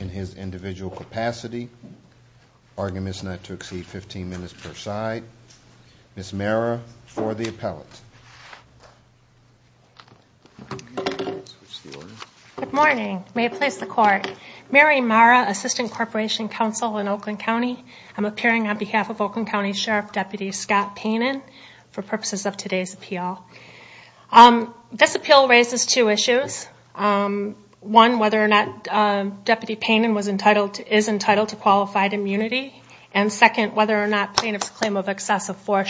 in his individual capacity. Argument is not to exceed 15 minutes per side. Ms. Mara for the appellate. Good morning. May it please the court. Mary Mara, Assistant Corporation Counsel in Oakland County. I'm appearing on behalf of Oakland County Sheriff Deputy Scott Panin for purposes of today's appeal. This appeal raises two issues. One, whether or not Deputy Panin is entitled to qualified immunity. And second, whether or not plaintiff's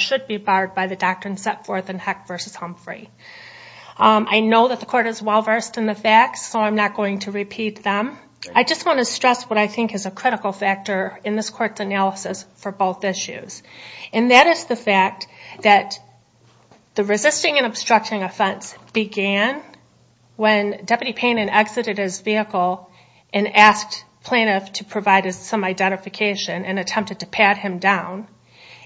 should be barred by the doctrine set forth in Heck v. Humphrey. I know that the court is well versed in the facts, so I'm not going to repeat them. I just want to stress what I think is a critical factor in this court's analysis for both issues. And that is the fact that the resisting and obstructing offense began when Deputy Panin exited his vehicle and asked plaintiff to provide us some identification and attempted to pat him down.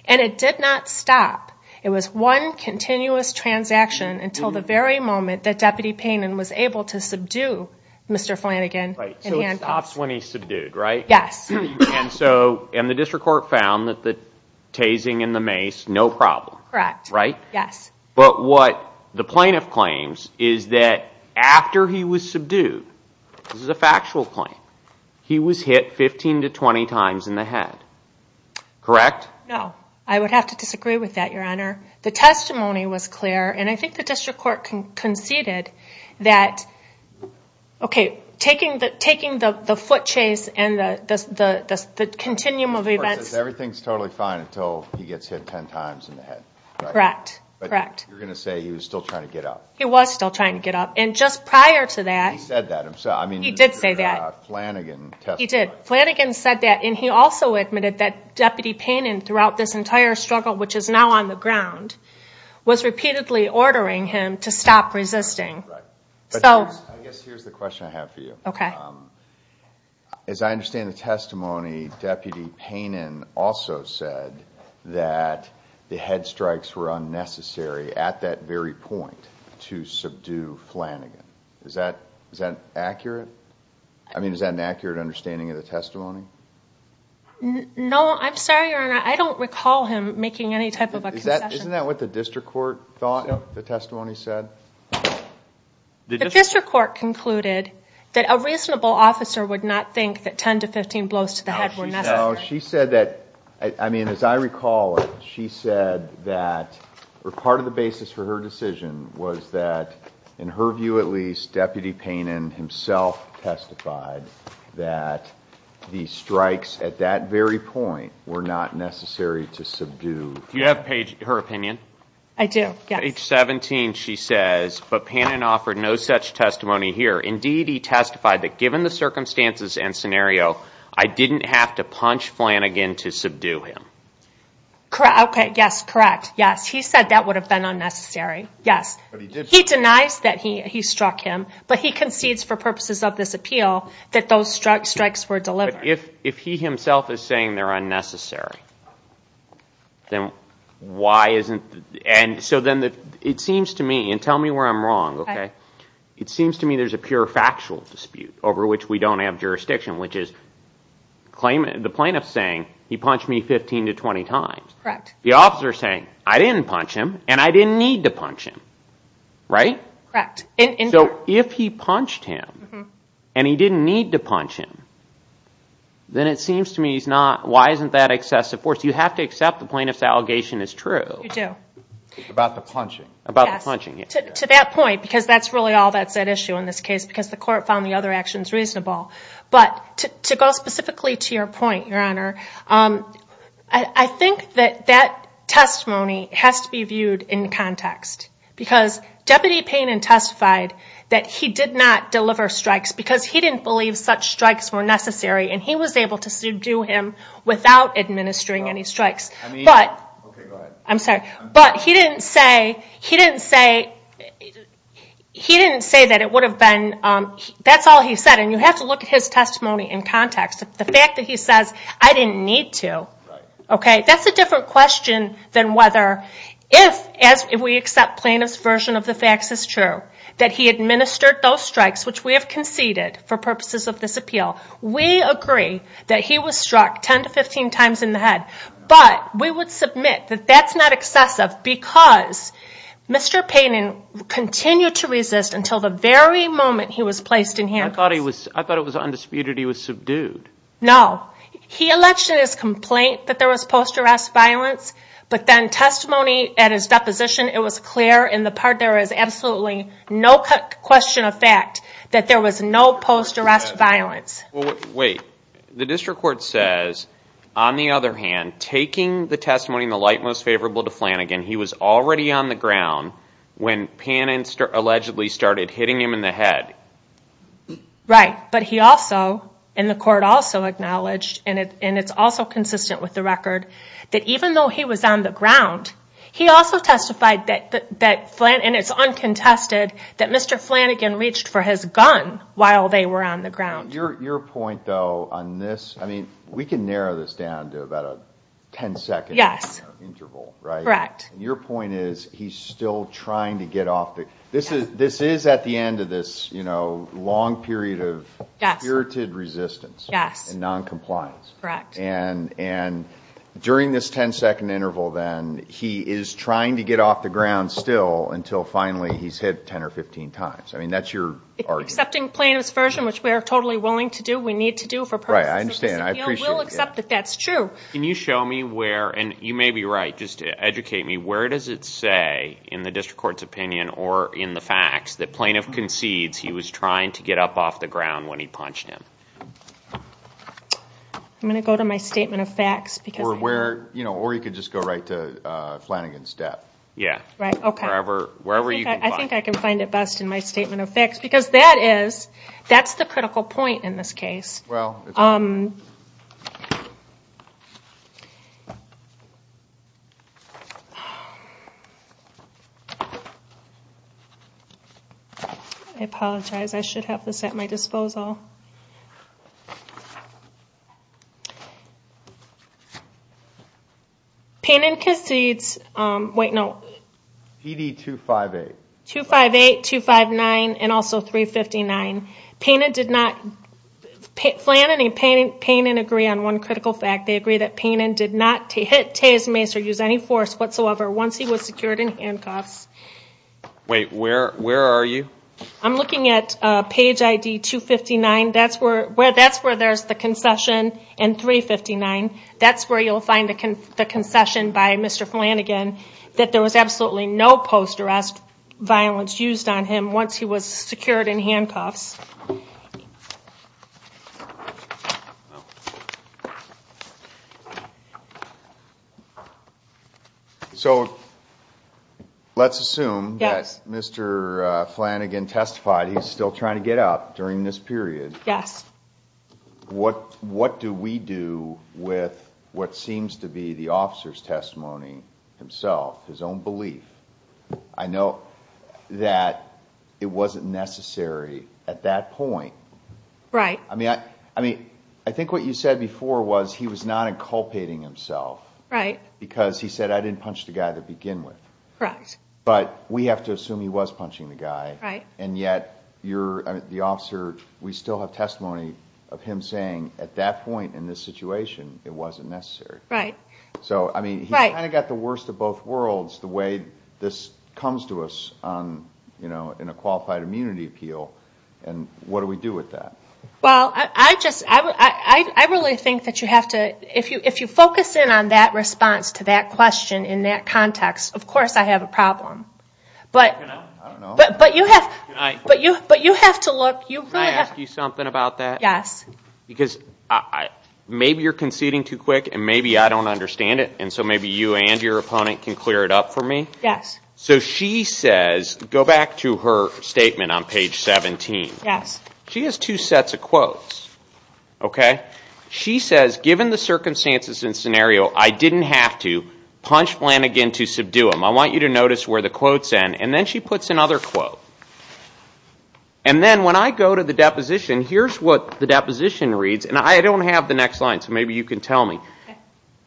And it did not stop. It was one continuous transaction until the very moment that Deputy Panin was able to subdue Mr. Flanigan. So it stops when he's subdued, right? Yes. And the district court found that the tasing in the mace, no problem. Correct. Right? Yes. But what the factual point? He was hit 15 to 20 times in the head. Correct? No. I would have to disagree with that, Your Honor. The testimony was clear, and I think the district court conceded that, okay, taking the foot chase and the continuum of events... The court says everything's totally fine until he gets hit 10 times in the head. Correct. But you're going to say he was still trying to get up. He was still trying to get up. And just prior to that... He said that himself. He did say that. He did. Flanigan said that, and he also admitted that Deputy Panin, throughout this entire struggle, which is now on the ground, was repeatedly ordering him to stop resisting. I guess here's the question I have for you. As I understand the testimony, Deputy Panin also said that the head strikes were unnecessary at that very point to subdue Flanigan. Is that accurate? I mean, is that an accurate understanding of the testimony? No. I'm sorry, Your Honor. I don't recall him making any type of a concession. Isn't that what the district court thought the testimony said? The district court concluded that a reasonable officer would not think that 10 to 15 blows to the head were necessary. No. She said that... I mean, as I recall it, she said that part of the basis for her decision was that, in her view at least, Deputy Panin himself testified that the strikes at that very point were not necessary to subdue... Do you have her opinion? I do, yes. Page 17, she says, but Panin offered no such testimony here. Indeed, he testified that given the circumstances and scenario, I didn't have to punch Flanigan to subdue him. Correct. Okay. Yes. Correct. Yes. He said that would have been unnecessary. Yes. He denies that he struck him, but he concedes for purposes of this appeal that those strikes were delivered. But if he himself is saying they're unnecessary, then why isn't... And so then it seems to me, and tell me where I'm wrong, okay? It seems to me there's a pure factual dispute over which we don't have jurisdiction, which is the plaintiff's saying, he punched me 15 to 20 times. Correct. The officer's saying, I didn't punch him, and I didn't need to punch him. Right? Correct. So if he punched him and he didn't need to punch him, then it seems to me he's not... Why isn't that excessive force? You have to accept the plaintiff's allegation is true. You do. About the punching. About the punching, yes. To that point, because that's really all that's at issue in this ball. But to go specifically to your point, Your Honor, I think that that testimony has to be viewed in context. Because Deputy Payne testified that he did not deliver strikes because he didn't believe such strikes were necessary, and he was able to subdue him without administering any strikes. Okay, go ahead. I'm sorry. But he didn't say that it would be necessary. You have to look at his testimony in context. The fact that he says, I didn't need to. Right. Okay, that's a different question than whether, if we accept plaintiff's version of the facts is true, that he administered those strikes, which we have conceded for purposes of this appeal. We agree that he was struck 10 to 15 times in the head. But we would submit that that's not excessive because Mr. Payne continued to resist until the very moment he was placed in handcuffs. I thought it was undisputed he was subdued. No. He alleged in his complaint that there was post-arrest violence, but then testimony at his deposition, it was clear in the part there is absolutely no question of fact that there was no post-arrest violence. Wait. The District Court says, on the other hand, taking the testimony in the light most favorable to Flanagan, he was already on the ground when Payne allegedly started hitting him in the head. Right. But he also, and the court also acknowledged, and it's also consistent with the record, that even though he was on the ground, he also testified that, and it's uncontested, that Mr. Flanagan reached for his gun while they were on the ground. Your point, though, on this, I mean, we can narrow this down to about a 10-second interval, right? Correct. Your point is he's still trying to get off the, this is at the end of this long period of spirited resistance and non-compliance, and during this 10-second interval, then, he is trying to get off the ground still until finally he's hit 10 or 15 times. I mean, that's your argument. Accepting Payne's version, which we are totally willing to do, we need to do for purposes of this appeal, we'll accept that that's true. Can you show me where, and you may be right, just to educate me, where does it say in the district court's opinion or in the facts that Plaintiff concedes he was trying to get up off the ground when he punched him? I'm going to go to my statement of facts because... Or where, you know, or you could just go right to Flanagan's step. Yeah. Right, okay. Wherever you can find it. I think I can find it best in my statement of facts because that is, that's the critical point in this case. I apologize, I should have this at my disposal. Payne concedes... Wait, no. ED258. 258, 259, 256, 257, 258, and also 359. Payne did not... Flanagan and Payne agree on one critical fact. They agree that Payne did not hit Taye's mace or use any force whatsoever once he was secured in handcuffs. Wait, where are you? I'm looking at page ID 259. That's where there's the concession and 359. That's where you'll find the concession by Mr. Flanagan that there was absolutely no post-arrest violence used on him once he was secured in handcuffs. So, let's assume that Mr. Flanagan testified he's still trying to get up during this period. Yes. What do we do with what seems to be the officer's testimony himself, his own belief? I know that it wasn't necessary at that point. Right. I think what you said before was he was not inculpating himself because he said, I didn't punch the guy to begin with. Correct. But we have to assume he was punching the guy and yet the officer, we still have testimony of him saying at that point in this situation it wasn't necessary. Right. So, I mean, he kind of got the worst of both worlds the way this comes to us in a Qualified Immunity Appeal and what do we do with that? Well, I just, I really think that you have to, if you focus in on that response to that question in that context, of course I have a problem. But you have to look. Can I ask you something about that? Yes. Because maybe you're conceding too quick and maybe I don't understand it and so maybe you and your opponent can clear it up for me. Yes. So, she says, go back to her statement on page 17. Yes. She has two sets of quotes, okay? She says, given the circumstances and scenario, I didn't have to punch Flanagan to subdue him. I want you to notice where the quotes end and then she says, and then when I go to the deposition, here's what the deposition reads and I don't have the next line so maybe you can tell me.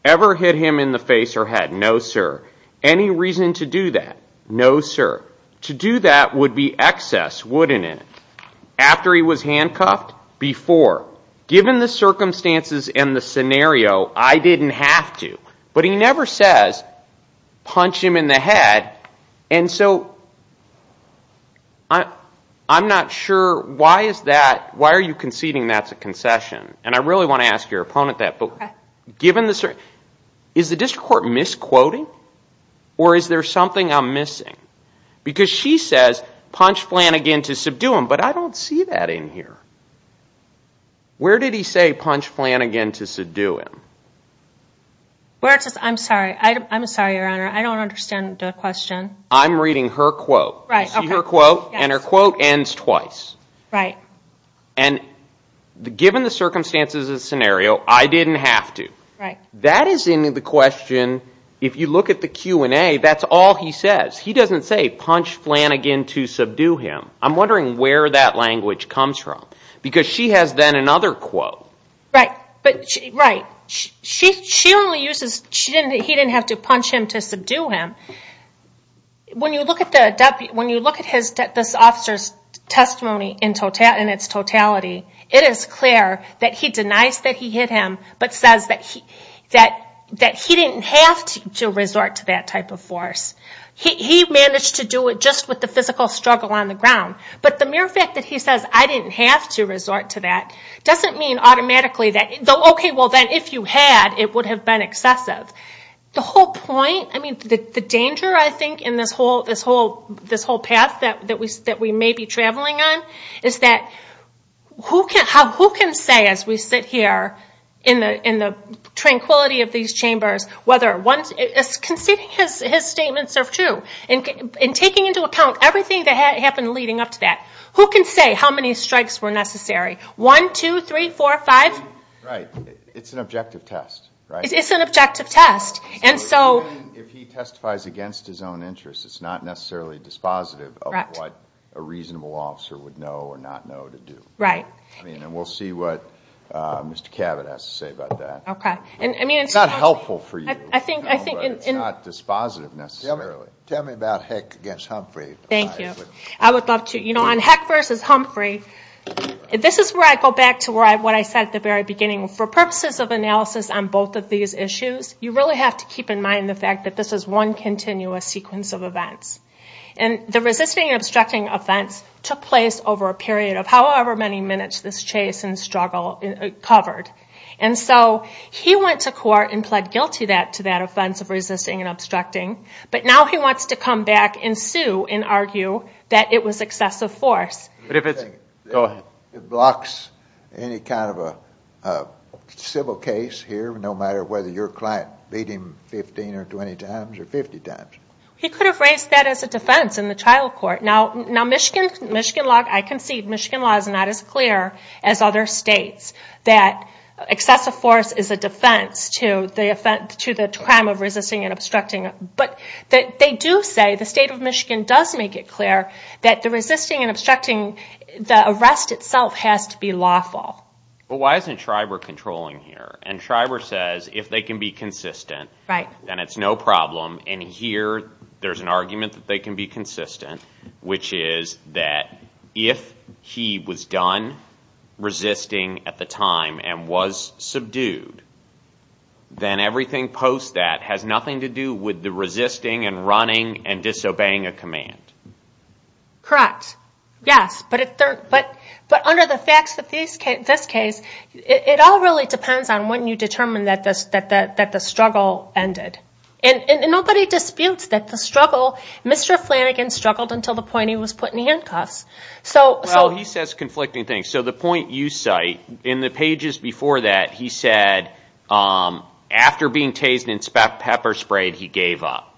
Ever hit him in the face or head? No, sir. Any reason to do that? No, sir. To do that would be excess, wouldn't it? After he was handcuffed? Before. Given the circumstances and the scenario, I didn't have to. But he never says, punch him in the head. And so, I'm not sure why is that, why are you conceding that's a concession? And I really want to ask your opponent that. Okay. Is the district court misquoting or is there something I'm missing? Because she says, punch Flanagan to subdue him, but I don't see that in here. Where did he say, punch Flanagan to subdue him? I'm sorry, I'm sorry, your honor. I don't understand the question. I'm reading her quote. You see her quote? And her quote ends twice. Right. And given the circumstances and scenario, I didn't have to. That is in the question, if you look at the Q&A, that's all he says. He doesn't say, punch Flanagan to subdue him. I'm wondering where that language comes from. Because she has then another quote. Right. She only uses, he didn't have to punch him to subdue him. When you look at this officer's testimony in its totality, it is clear that he denies that he hit him, but says that he didn't have to resort to that type of force. He managed to do it just with the physical struggle on the ground. But the mere fact that he says, I didn't have to resort to that, doesn't mean automatically that, okay, if you had, it would have been excessive. The whole point, the danger I think in this whole path that we may be traveling on, is that who can say as we sit here in the tranquility of these chambers, whether one's, is conceding his statements are true? Taking into account everything that happened leading up to that, who can say how many strikes were necessary? One, two, three, four, five? Right. It's an objective test. It's an objective test. If he testifies against his own interests, it's not necessarily dispositive of what a reasonable officer would know or not know to do. Right. We'll see what Mr. Cabot has to say about that. Okay. It's not helpful for you, but it's not dispositive necessarily. Tell me about Heck against Humphrey. Thank you. I would love to. On Heck versus Humphrey, this is where I go back to what I said at the very beginning. For purposes of analysis on both of these issues, you really have to keep in mind the fact that this is one continuous sequence of events. The resisting and obstructing offense took place over a period of however many minutes this chase and struggle covered. He went to court and pled guilty to that offense of resisting and obstructing, but now he wants to come back and sue and argue that it was excessive force. Go ahead. It blocks any kind of a civil case here, no matter whether your client beat him 15 or 20 times or 50 times. He could have raised that as a defense in the trial court. Now, Michigan law, I concede, Michigan law is not as clear as other states that excessive force is a defense to the crime of resisting and obstructing. They do say, the state of Michigan does make it clear that the resisting and obstructing, the arrest itself has to be lawful. Why isn't Schreiber controlling here? Schreiber says if they can be consistent, then it's no problem. Here, there's an argument that they can be consistent, which is that if he was done resisting at the time and was subdued, then everything post that has nothing to do with the resisting and running and disobeying a command. Correct. Yes, but under the facts of this case, it all really depends on when you determine that the struggle ended. Nobody disputes that the struggle, Mr. Flanagan struggled until the point he was put in handcuffs. Well, he says conflicting things. The point you cite, in the pages before that, he said, after being tased and pepper sprayed, he gave up.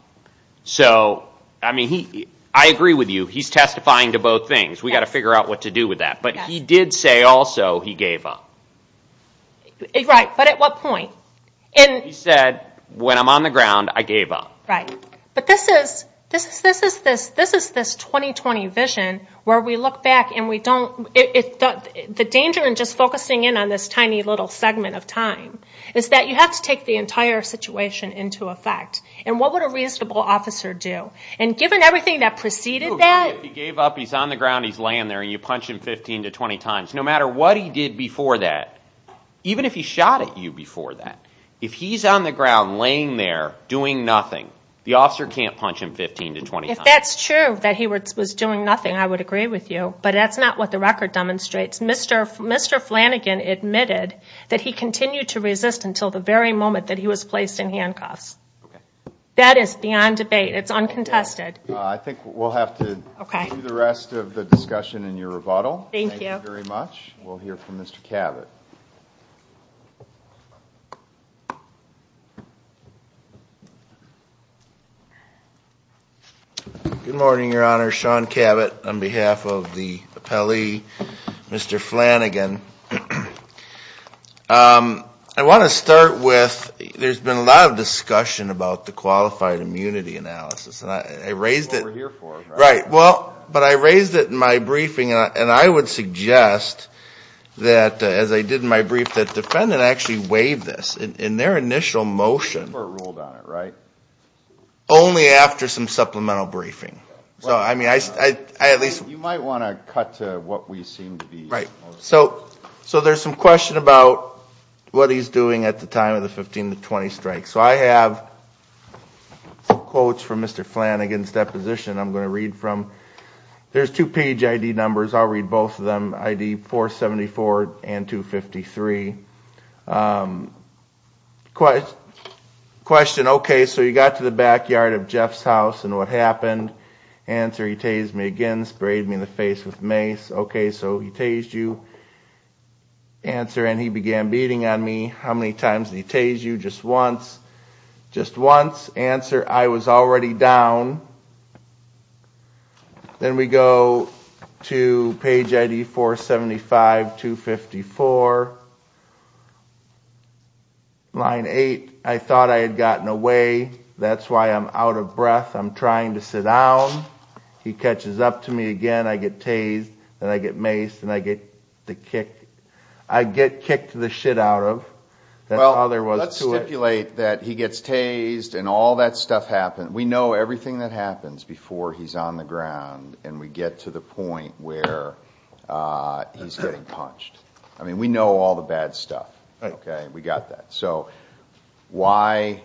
I agree with you, he's testifying to both things. We've got to figure out what to do with that, but he did say also he gave up. Right, but at what point? He said, when I'm on the ground, I gave up. Right, but this is this 2020 vision where we look back and we don't... The danger in just focusing in on this tiny little segment of time is that you have to take the entire situation into effect. What would a reasonable officer do? Given everything that preceded that? I do agree if he gave up, he's on the ground, he's laying there, and you punch him 15 to 20 times. No matter what he did before that, even if he shot at you before that, if he's on the ground laying there doing nothing, the officer can't punch him 15 to 20 times. If that's true, that he was doing nothing, I would agree with you, but that's not what the record demonstrates. Mr. Flanagan admitted that he continued to resist until the very moment that he was placed in handcuffs. That is beyond debate. It's uncontested. I think we'll have to do the rest of the discussion in your rebuttal. Thank you very much. We'll hear from Mr. Cavett. Good morning, Your Honor. Sean Cavett on behalf of the appellee, Mr. Flanagan. I want to start with, there's been a lot of discussion about the qualified immunity analysis. I raised it in my briefing, and I would suggest that, as I did in my briefing, that the defendant actually waived this in their initial motion, only after some supplemental briefing. You might want to cut to what we seem to be... So there's some question about what he's doing at the time of the 15 to 20 strikes. So I have some quotes from Mr. Flanagan's deposition. I'm going to read from, there's two page ID numbers, I'll read both of them, ID 474 and 253. Question, okay, so you got to the backyard of Jeff's house, and what happened? Answer, he tased me again, sprayed me in the face with mace. Okay, so he tased you. Answer, and he began beating on me. How many times did he tase you? Just once. Just once. Answer, I was already down. Then we go to page ID 475, 254, line 8, I thought I had gotten away, that's why I'm out of the house. Question, out of breath, I'm trying to sit down, he catches up to me again, I get tased, and I get maced, and I get kicked the shit out of, that's all there was to it. Well, let's stipulate that he gets tased, and all that stuff happens, we know everything that happens before he's on the ground, and we get to the point where he's getting punched. I mean, we know all the bad stuff, okay, we got that. So, why,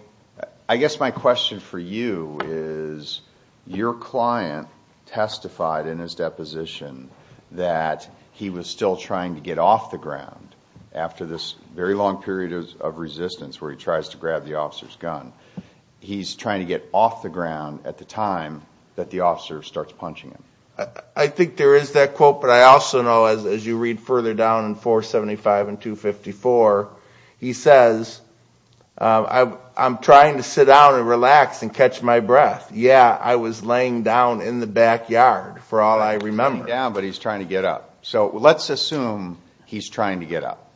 I guess my question for you is, your client testified in his deposition that he was still trying to get off the ground after this very long period of resistance where he tries to grab the officer's gun. He's trying to get off the ground at the time that the officer starts punching him. I think there is that quote, but I also know, as you read further down in 475 and 254, he says, I'm trying to sit down and relax and catch my breath. Yeah, I was laying down in the backyard, for all I remember. He's laying down, but he's trying to get up. So, let's assume he's trying to get up.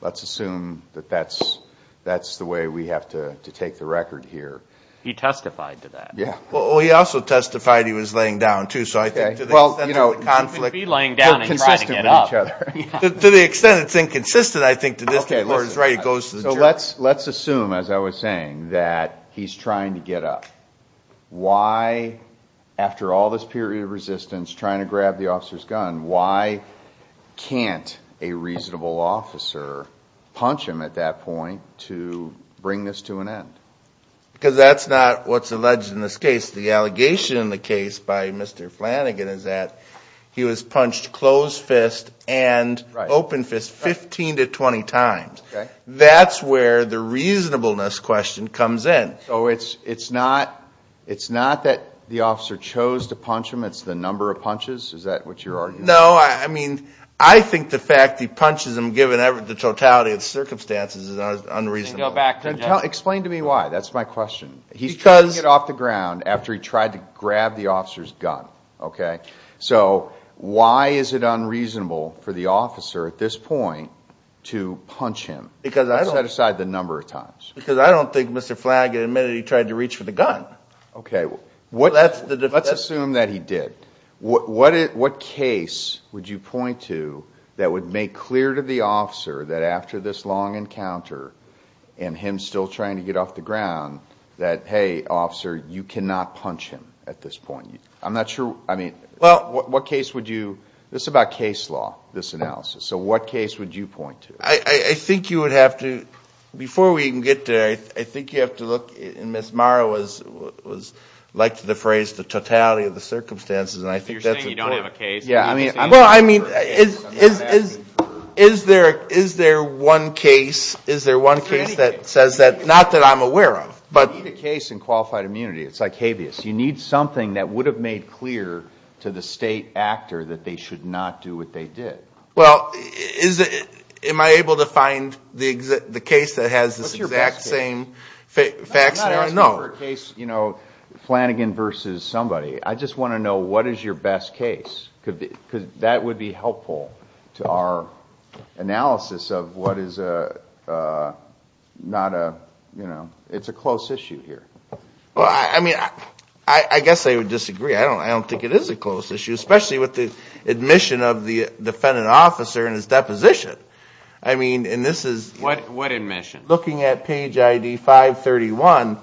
Let's assume that that's the way we have to take the record here. He testified to that. Well, he also testified he was laying down, too, so I think to the extent of the conflict, they're consistent with each other. To the extent it's inconsistent, I think to this day, Lord is right, it goes to the jury. Let's assume, as I was saying, that he's trying to get up. Why, after all this period of resistance, trying to grab the officer's gun, why can't a reasonable officer punch him at that point to bring this to an end? Because that's not what's alleged in this case. The allegation in the case by Mr. Flanagan is that he was punched closed fist and open fist 15 to 20 times. That's where the reasonableness question comes in. So, it's not that the officer chose to punch him, it's the number of punches? Is that what you're arguing? No, I mean, I think the fact he punches him, given the totality of circumstances, is unreasonable. Explain to me why, that's my question. He's trying to get off the ground after he tried to grab the officer's gun. So, why is it unreasonable for the officer, at this point, to punch him? Set aside the number of times. Because I don't think Mr. Flanagan admitted he tried to reach for the gun. Let's assume that he did. What case would you point to that would make clear to the officer that after this long encounter, and him still trying to get off the ground, that, hey, officer, you cannot punch him at this point? I'm not sure, I mean, what case would you, this is about case law, this analysis, so what case would you point to? I think you would have to, before we can get there, I think you have to look, and Ms. Morrow liked the phrase, the totality of the circumstances, and I think that's important. You're saying you don't have a case. Well, I mean, is there one case, is there one case that says that, not that I'm aware of, but. You need a case in qualified immunity, it's like habeas. You need something that would have made clear to the state actor that they should not do what they did. Well, is it, am I able to find the case that has this exact same facts there? No. I'm not asking for a case, you know, Flanagan versus somebody, I just want to know what is your best case, because that would be helpful to our analysis of what is a, not a, you know, it's a close issue here. Well, I mean, I guess I would disagree, I don't think it is a close issue, especially with the admission of the defendant officer and his deposition. I mean, and this is. What admission? Looking at page ID 531,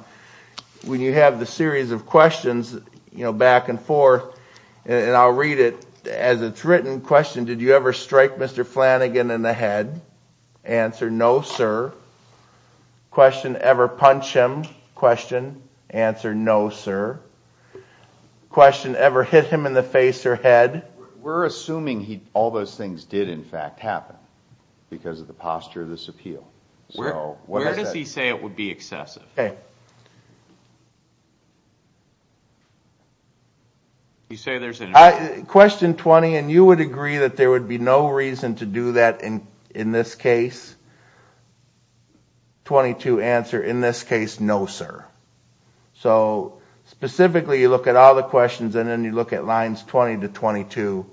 when you have the series of questions, you know, back and forth, and I'll read it as it's written, question, did you ever strike Mr. Flanagan in the head? Answer, no, sir. Question, ever punch him? Question, answer, no, sir. Question, ever hit him in the face or head? We're assuming he, all those things did in fact happen, because of the posture of this appeal. So, where does he say it would be excessive? Okay. You say there's an. Question 20, and you would agree that there would be no reason to do that in this case? 22, answer, in this case, no, sir. So, specifically, you look at all the questions and then you look at lines 20 to 22,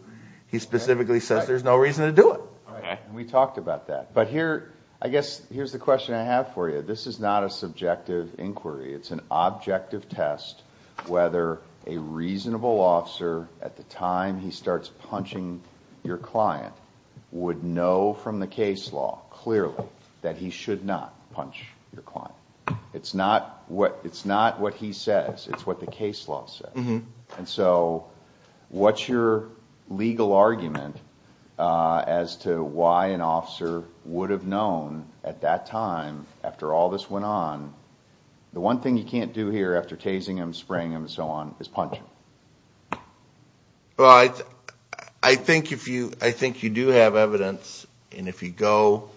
he specifically says there's no reason to do it. Okay, and we've talked about that. But here, I guess, here's the question I have for you. This is not a subjective inquiry. It's an objective test whether a reasonable officer, at the time he starts punching your client, would know from the case law, clearly, that he should not punch your client. It's not what he says, it's what the case law says. And so, what's your legal argument as to why an officer would have known at that time, after all this went on, the one thing you can't do here after tasing him, spraying him, and so on, is punch him? Well, I think if you, I think you do have evidence, and if you go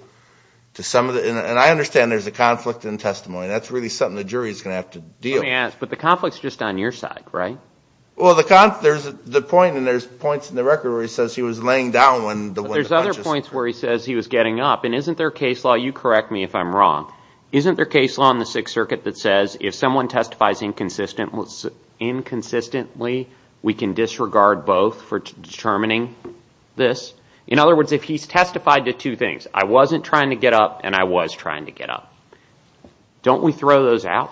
to some of the, and I understand there's a conflict in testimony. That's really something the jury's going to have to deal with. Let me ask, but the conflict's just on your side, right? Well, the conflict, there's the point, and there's points in the record where he says he was laying down when the punches. But there's other points where he says he was getting up, and isn't there case law, you correct me if I'm wrong, isn't there case law in the Sixth Circuit that says if someone testifies inconsistently, we can disregard both for determining this? In other words, if he's testified to two things, I wasn't trying to get up, and I was trying to get up. Don't we throw those out?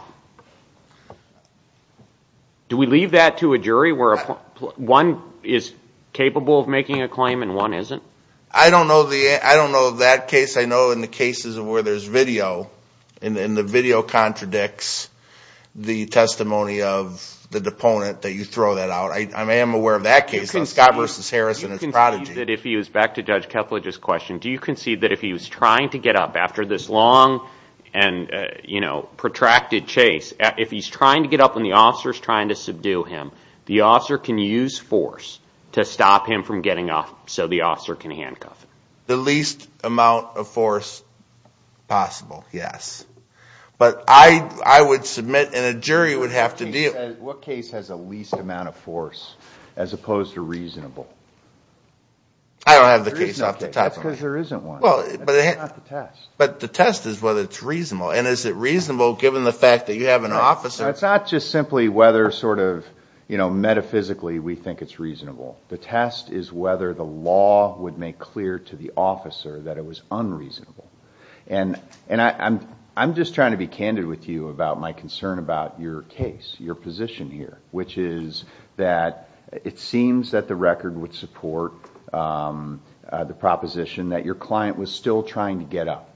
Do we leave that to a jury where a point, a point one is capable of making a claim, and one isn't? I don't know the, I don't know that case. I know in the cases where there's video, and the video contradicts the testimony of the deponent that you throw that out. I am aware of that case, Scott versus Harrison as prodigy. Do you concede that if he was, back to Judge Kethledge's question, do you concede that if he was trying to get up after this long and, you know, protracted chase, if he's trying to get up and the officer's trying to subdue him, the officer can use force to stop him from getting up, so the officer can handcuff him? The least amount of force possible, yes. But I, I would submit, and a jury would have to deal. What case has a least amount of force, as opposed to reasonable? I don't have the case off the top of my head. But the test is whether it's reasonable, and is it reasonable given the fact that you have an officer? It's not just simply whether sort of, you know, metaphysically we think it's reasonable. The test is whether the law would make clear to the officer that it was unreasonable. And, and I'm, I'm just trying to be candid with you about my concern about your case, your position here, which is that it seems that the record would support the proposition that your client was still trying to get up.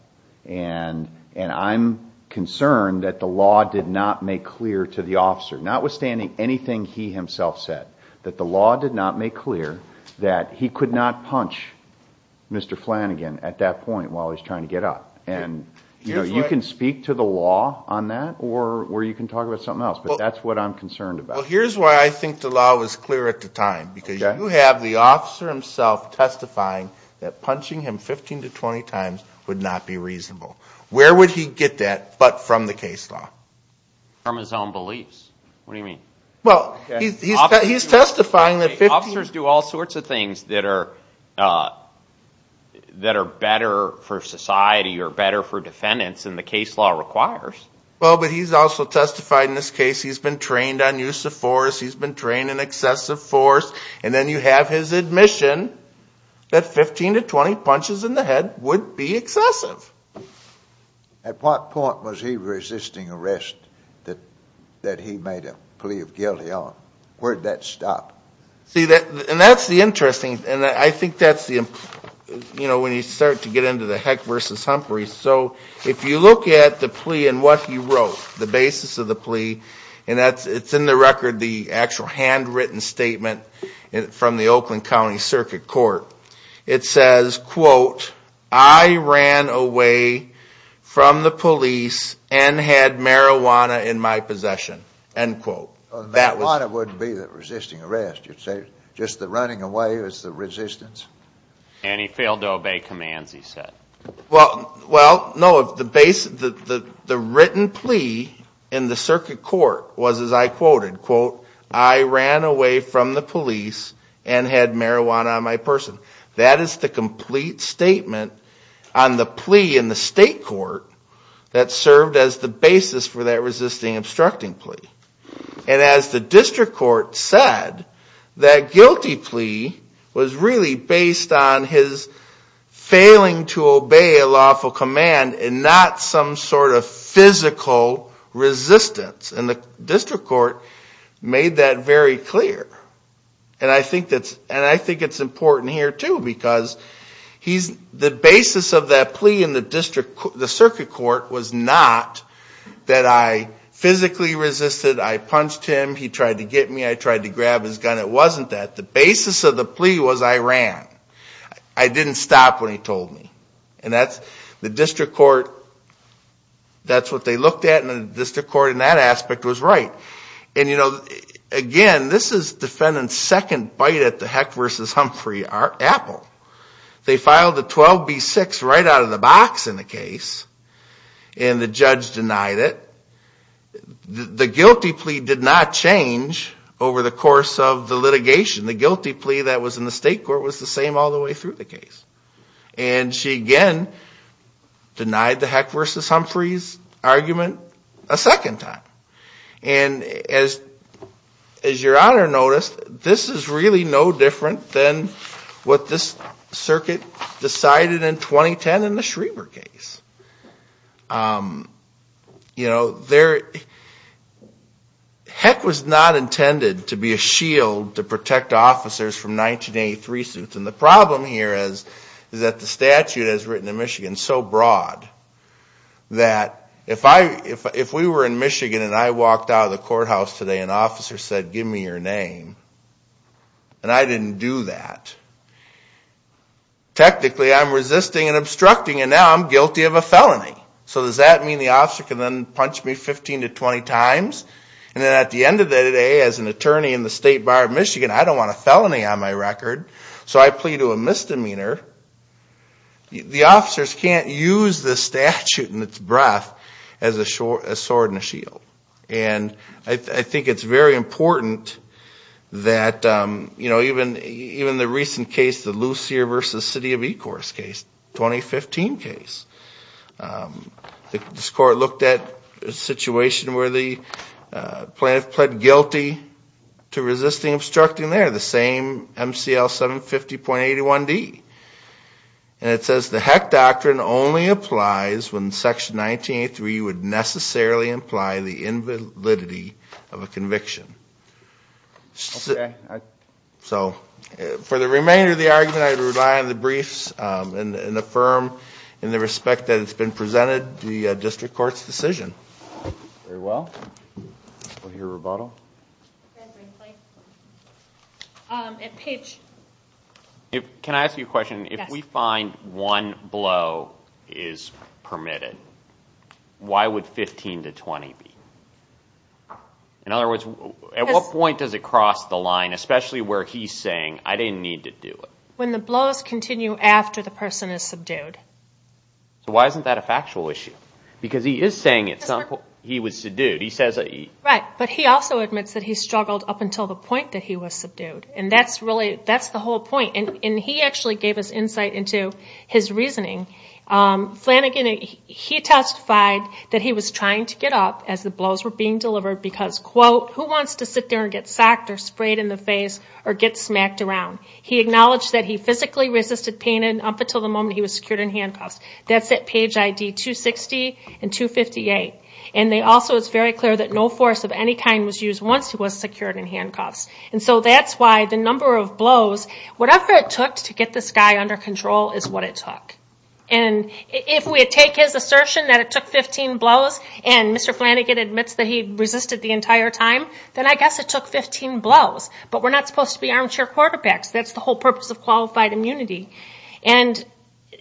And, and I'm concerned that the law did not make clear to the officer, notwithstanding anything he himself said, that the law did not make clear that he could not punch Mr. Flanagan at that point while he was trying to get up. And, you know, you can speak to the law on that or, or you can talk about something else, but that's what I'm concerned about. Well, here's why I think the law was clear at the time, because you have the officer himself testifying that punching him 15 to 20 times would not be reasonable. Where would he get that but from the case law? From his own beliefs. What do you mean? Well, he's, he's testifying that 15... Officers do all sorts of things that are, that are better for society or better for defendants than the case law requires. Well, but he's also testified in this case, he's been trained on use of force, he's been trained in excessive force, and then you have his admission that 15 to 20 punches in the head would be excessive. At what point was he resisting arrest that, that he made a plea of guilty on? Where'd that stop? See, that, and that's the interesting, and I think that's the, you know, when you start to get into the Heck versus Humphrey, so if you look at the plea and what he wrote, the handwritten statement from the Oakland County Circuit Court, it says, quote, I ran away from the police and had marijuana in my possession, end quote. That was... Marijuana wouldn't be the resisting arrest, you'd say just the running away was the resistance? And he failed to obey commands, he said. Well, well, no, the base, the, the, the written plea in the circuit court was, as I quoted, quote, I ran away from the police and had marijuana on my person. That is the complete statement on the plea in the state court that served as the basis for that resisting obstructing plea. And as the district court said, that guilty plea was really based on his failing to obey a lawful command and not some sort of physical resistance. And the district court made that very clear. And I think that's, and I think it's important here too because he's, the basis of that plea in the district, the circuit court was not that I physically resisted, I punched him, he tried to get me, I tried to grab his gun, it wasn't that. The basis of the plea was I ran. I didn't stop when he told me. And that's, the district court, that's what they looked at in the district court and that aspect was right. And you know, again, this is defendant's second bite at the Heck versus Humphrey apple. They filed a 12B6 right out of the box in the case and the judge denied it. The guilty plea did not change over the course of the litigation. The guilty plea that was in the state court was the same all the way through the case. And she again denied the Heck versus Humphrey's argument a second time. And as your honor noticed, this is really no different than what this circuit decided in 2010 in the Schreber case. You know, there, Heck was not intended to be a shield to protect officers from 1983 suits. And the problem here is that the statute is written in Michigan so broad that if we were in Michigan and I walked out of the courthouse today and an officer said, give me your name, and I didn't do that, technically I'm resisting and obstructing and now I'm guilty of a felony. So does that mean the officer can then punch me 15 to 20 times? And then at the end of the day, as an attorney in the State Bar of Michigan, I don't want a felony on my record. So I plead to a misdemeanor. The officers can't use the statute and its breadth as a sword and a shield. And I think it's very important that, you know, even the recent case, the Lucier versus City of Ecorse case, 2015 case, this court looked at a situation where the plaintiff pled guilty to resisting and obstructing there, the same MCL 750.81D. And it says the Heck Doctrine only applies when Section 1983 would necessarily imply the invalidity of a conviction. So for the remainder of the argument, I rely on the briefs and affirm in the respect that it's been presented to the District Court's decision. Very well. We'll hear rebuttal. Okay. Thank you. At pitch. Can I ask you a question? If we find one blow is permitted, why would 15 to 20 be? In other words, at what point does it cross the line, especially where he's saying, I didn't need to do it? When the blows continue after the person is subdued. So why isn't that a factual issue? Because he is saying at some point he was subdued. He says that he... Right. But he also admits that he struggled up until the point that he was subdued. And that's really... That's the whole point. And he actually gave us insight into his reasoning. Flanagan, he testified that he was trying to get up as the blows were being delivered because, quote, who wants to sit there and get socked or sprayed in the face or get smacked around? He acknowledged that he physically resisted pain and up until the moment he was secured in handcuffs. That's at page ID 260 and 258. And they also... It's very clear that no force of any kind was used once he was secured in handcuffs. And so that's why the number of blows, whatever it took to get this guy under control is what it took. And if we take his assertion that it took 15 blows and Mr. Flanagan admits that he resisted the entire time, then I guess it took 15 blows. But we're not supposed to be armchair quarterbacks. That's the whole purpose of qualified immunity. And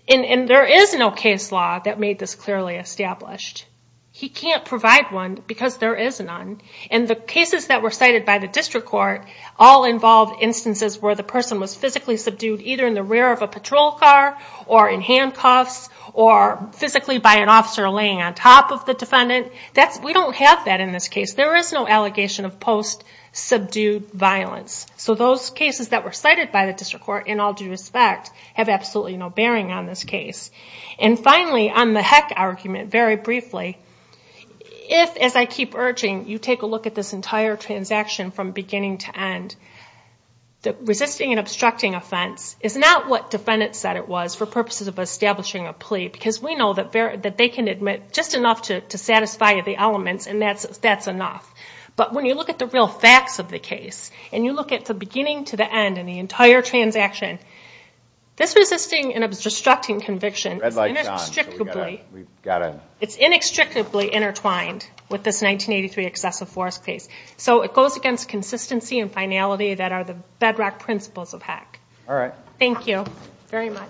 there is no case law that made this clearly established. He can't provide one because there is none. And the cases that were cited by the district court all involved instances where the person was physically subdued either in the rear of a patrol car or in handcuffs or physically by an officer laying on top of the defendant. We don't have that in this case. There is no allegation of post-subdued violence. So those cases that were cited by the district court in all due respect have absolutely no bearing on this case. And finally, on the heck argument, very briefly, if, as I keep urging, you take a look at this entire transaction from beginning to end, the resisting and obstructing offense is not what defendants said it was for purposes of establishing a plea. Because we know that they can admit just enough to satisfy the elements and that's enough. But when you look at the real facts of the case and you look at the beginning to the end and the entire transaction, this resisting and obstructing conviction is inextricably intertwined with this 1983 excessive force case. So it goes against consistency and finality that are the bedrock principles of heck. Thank you very much.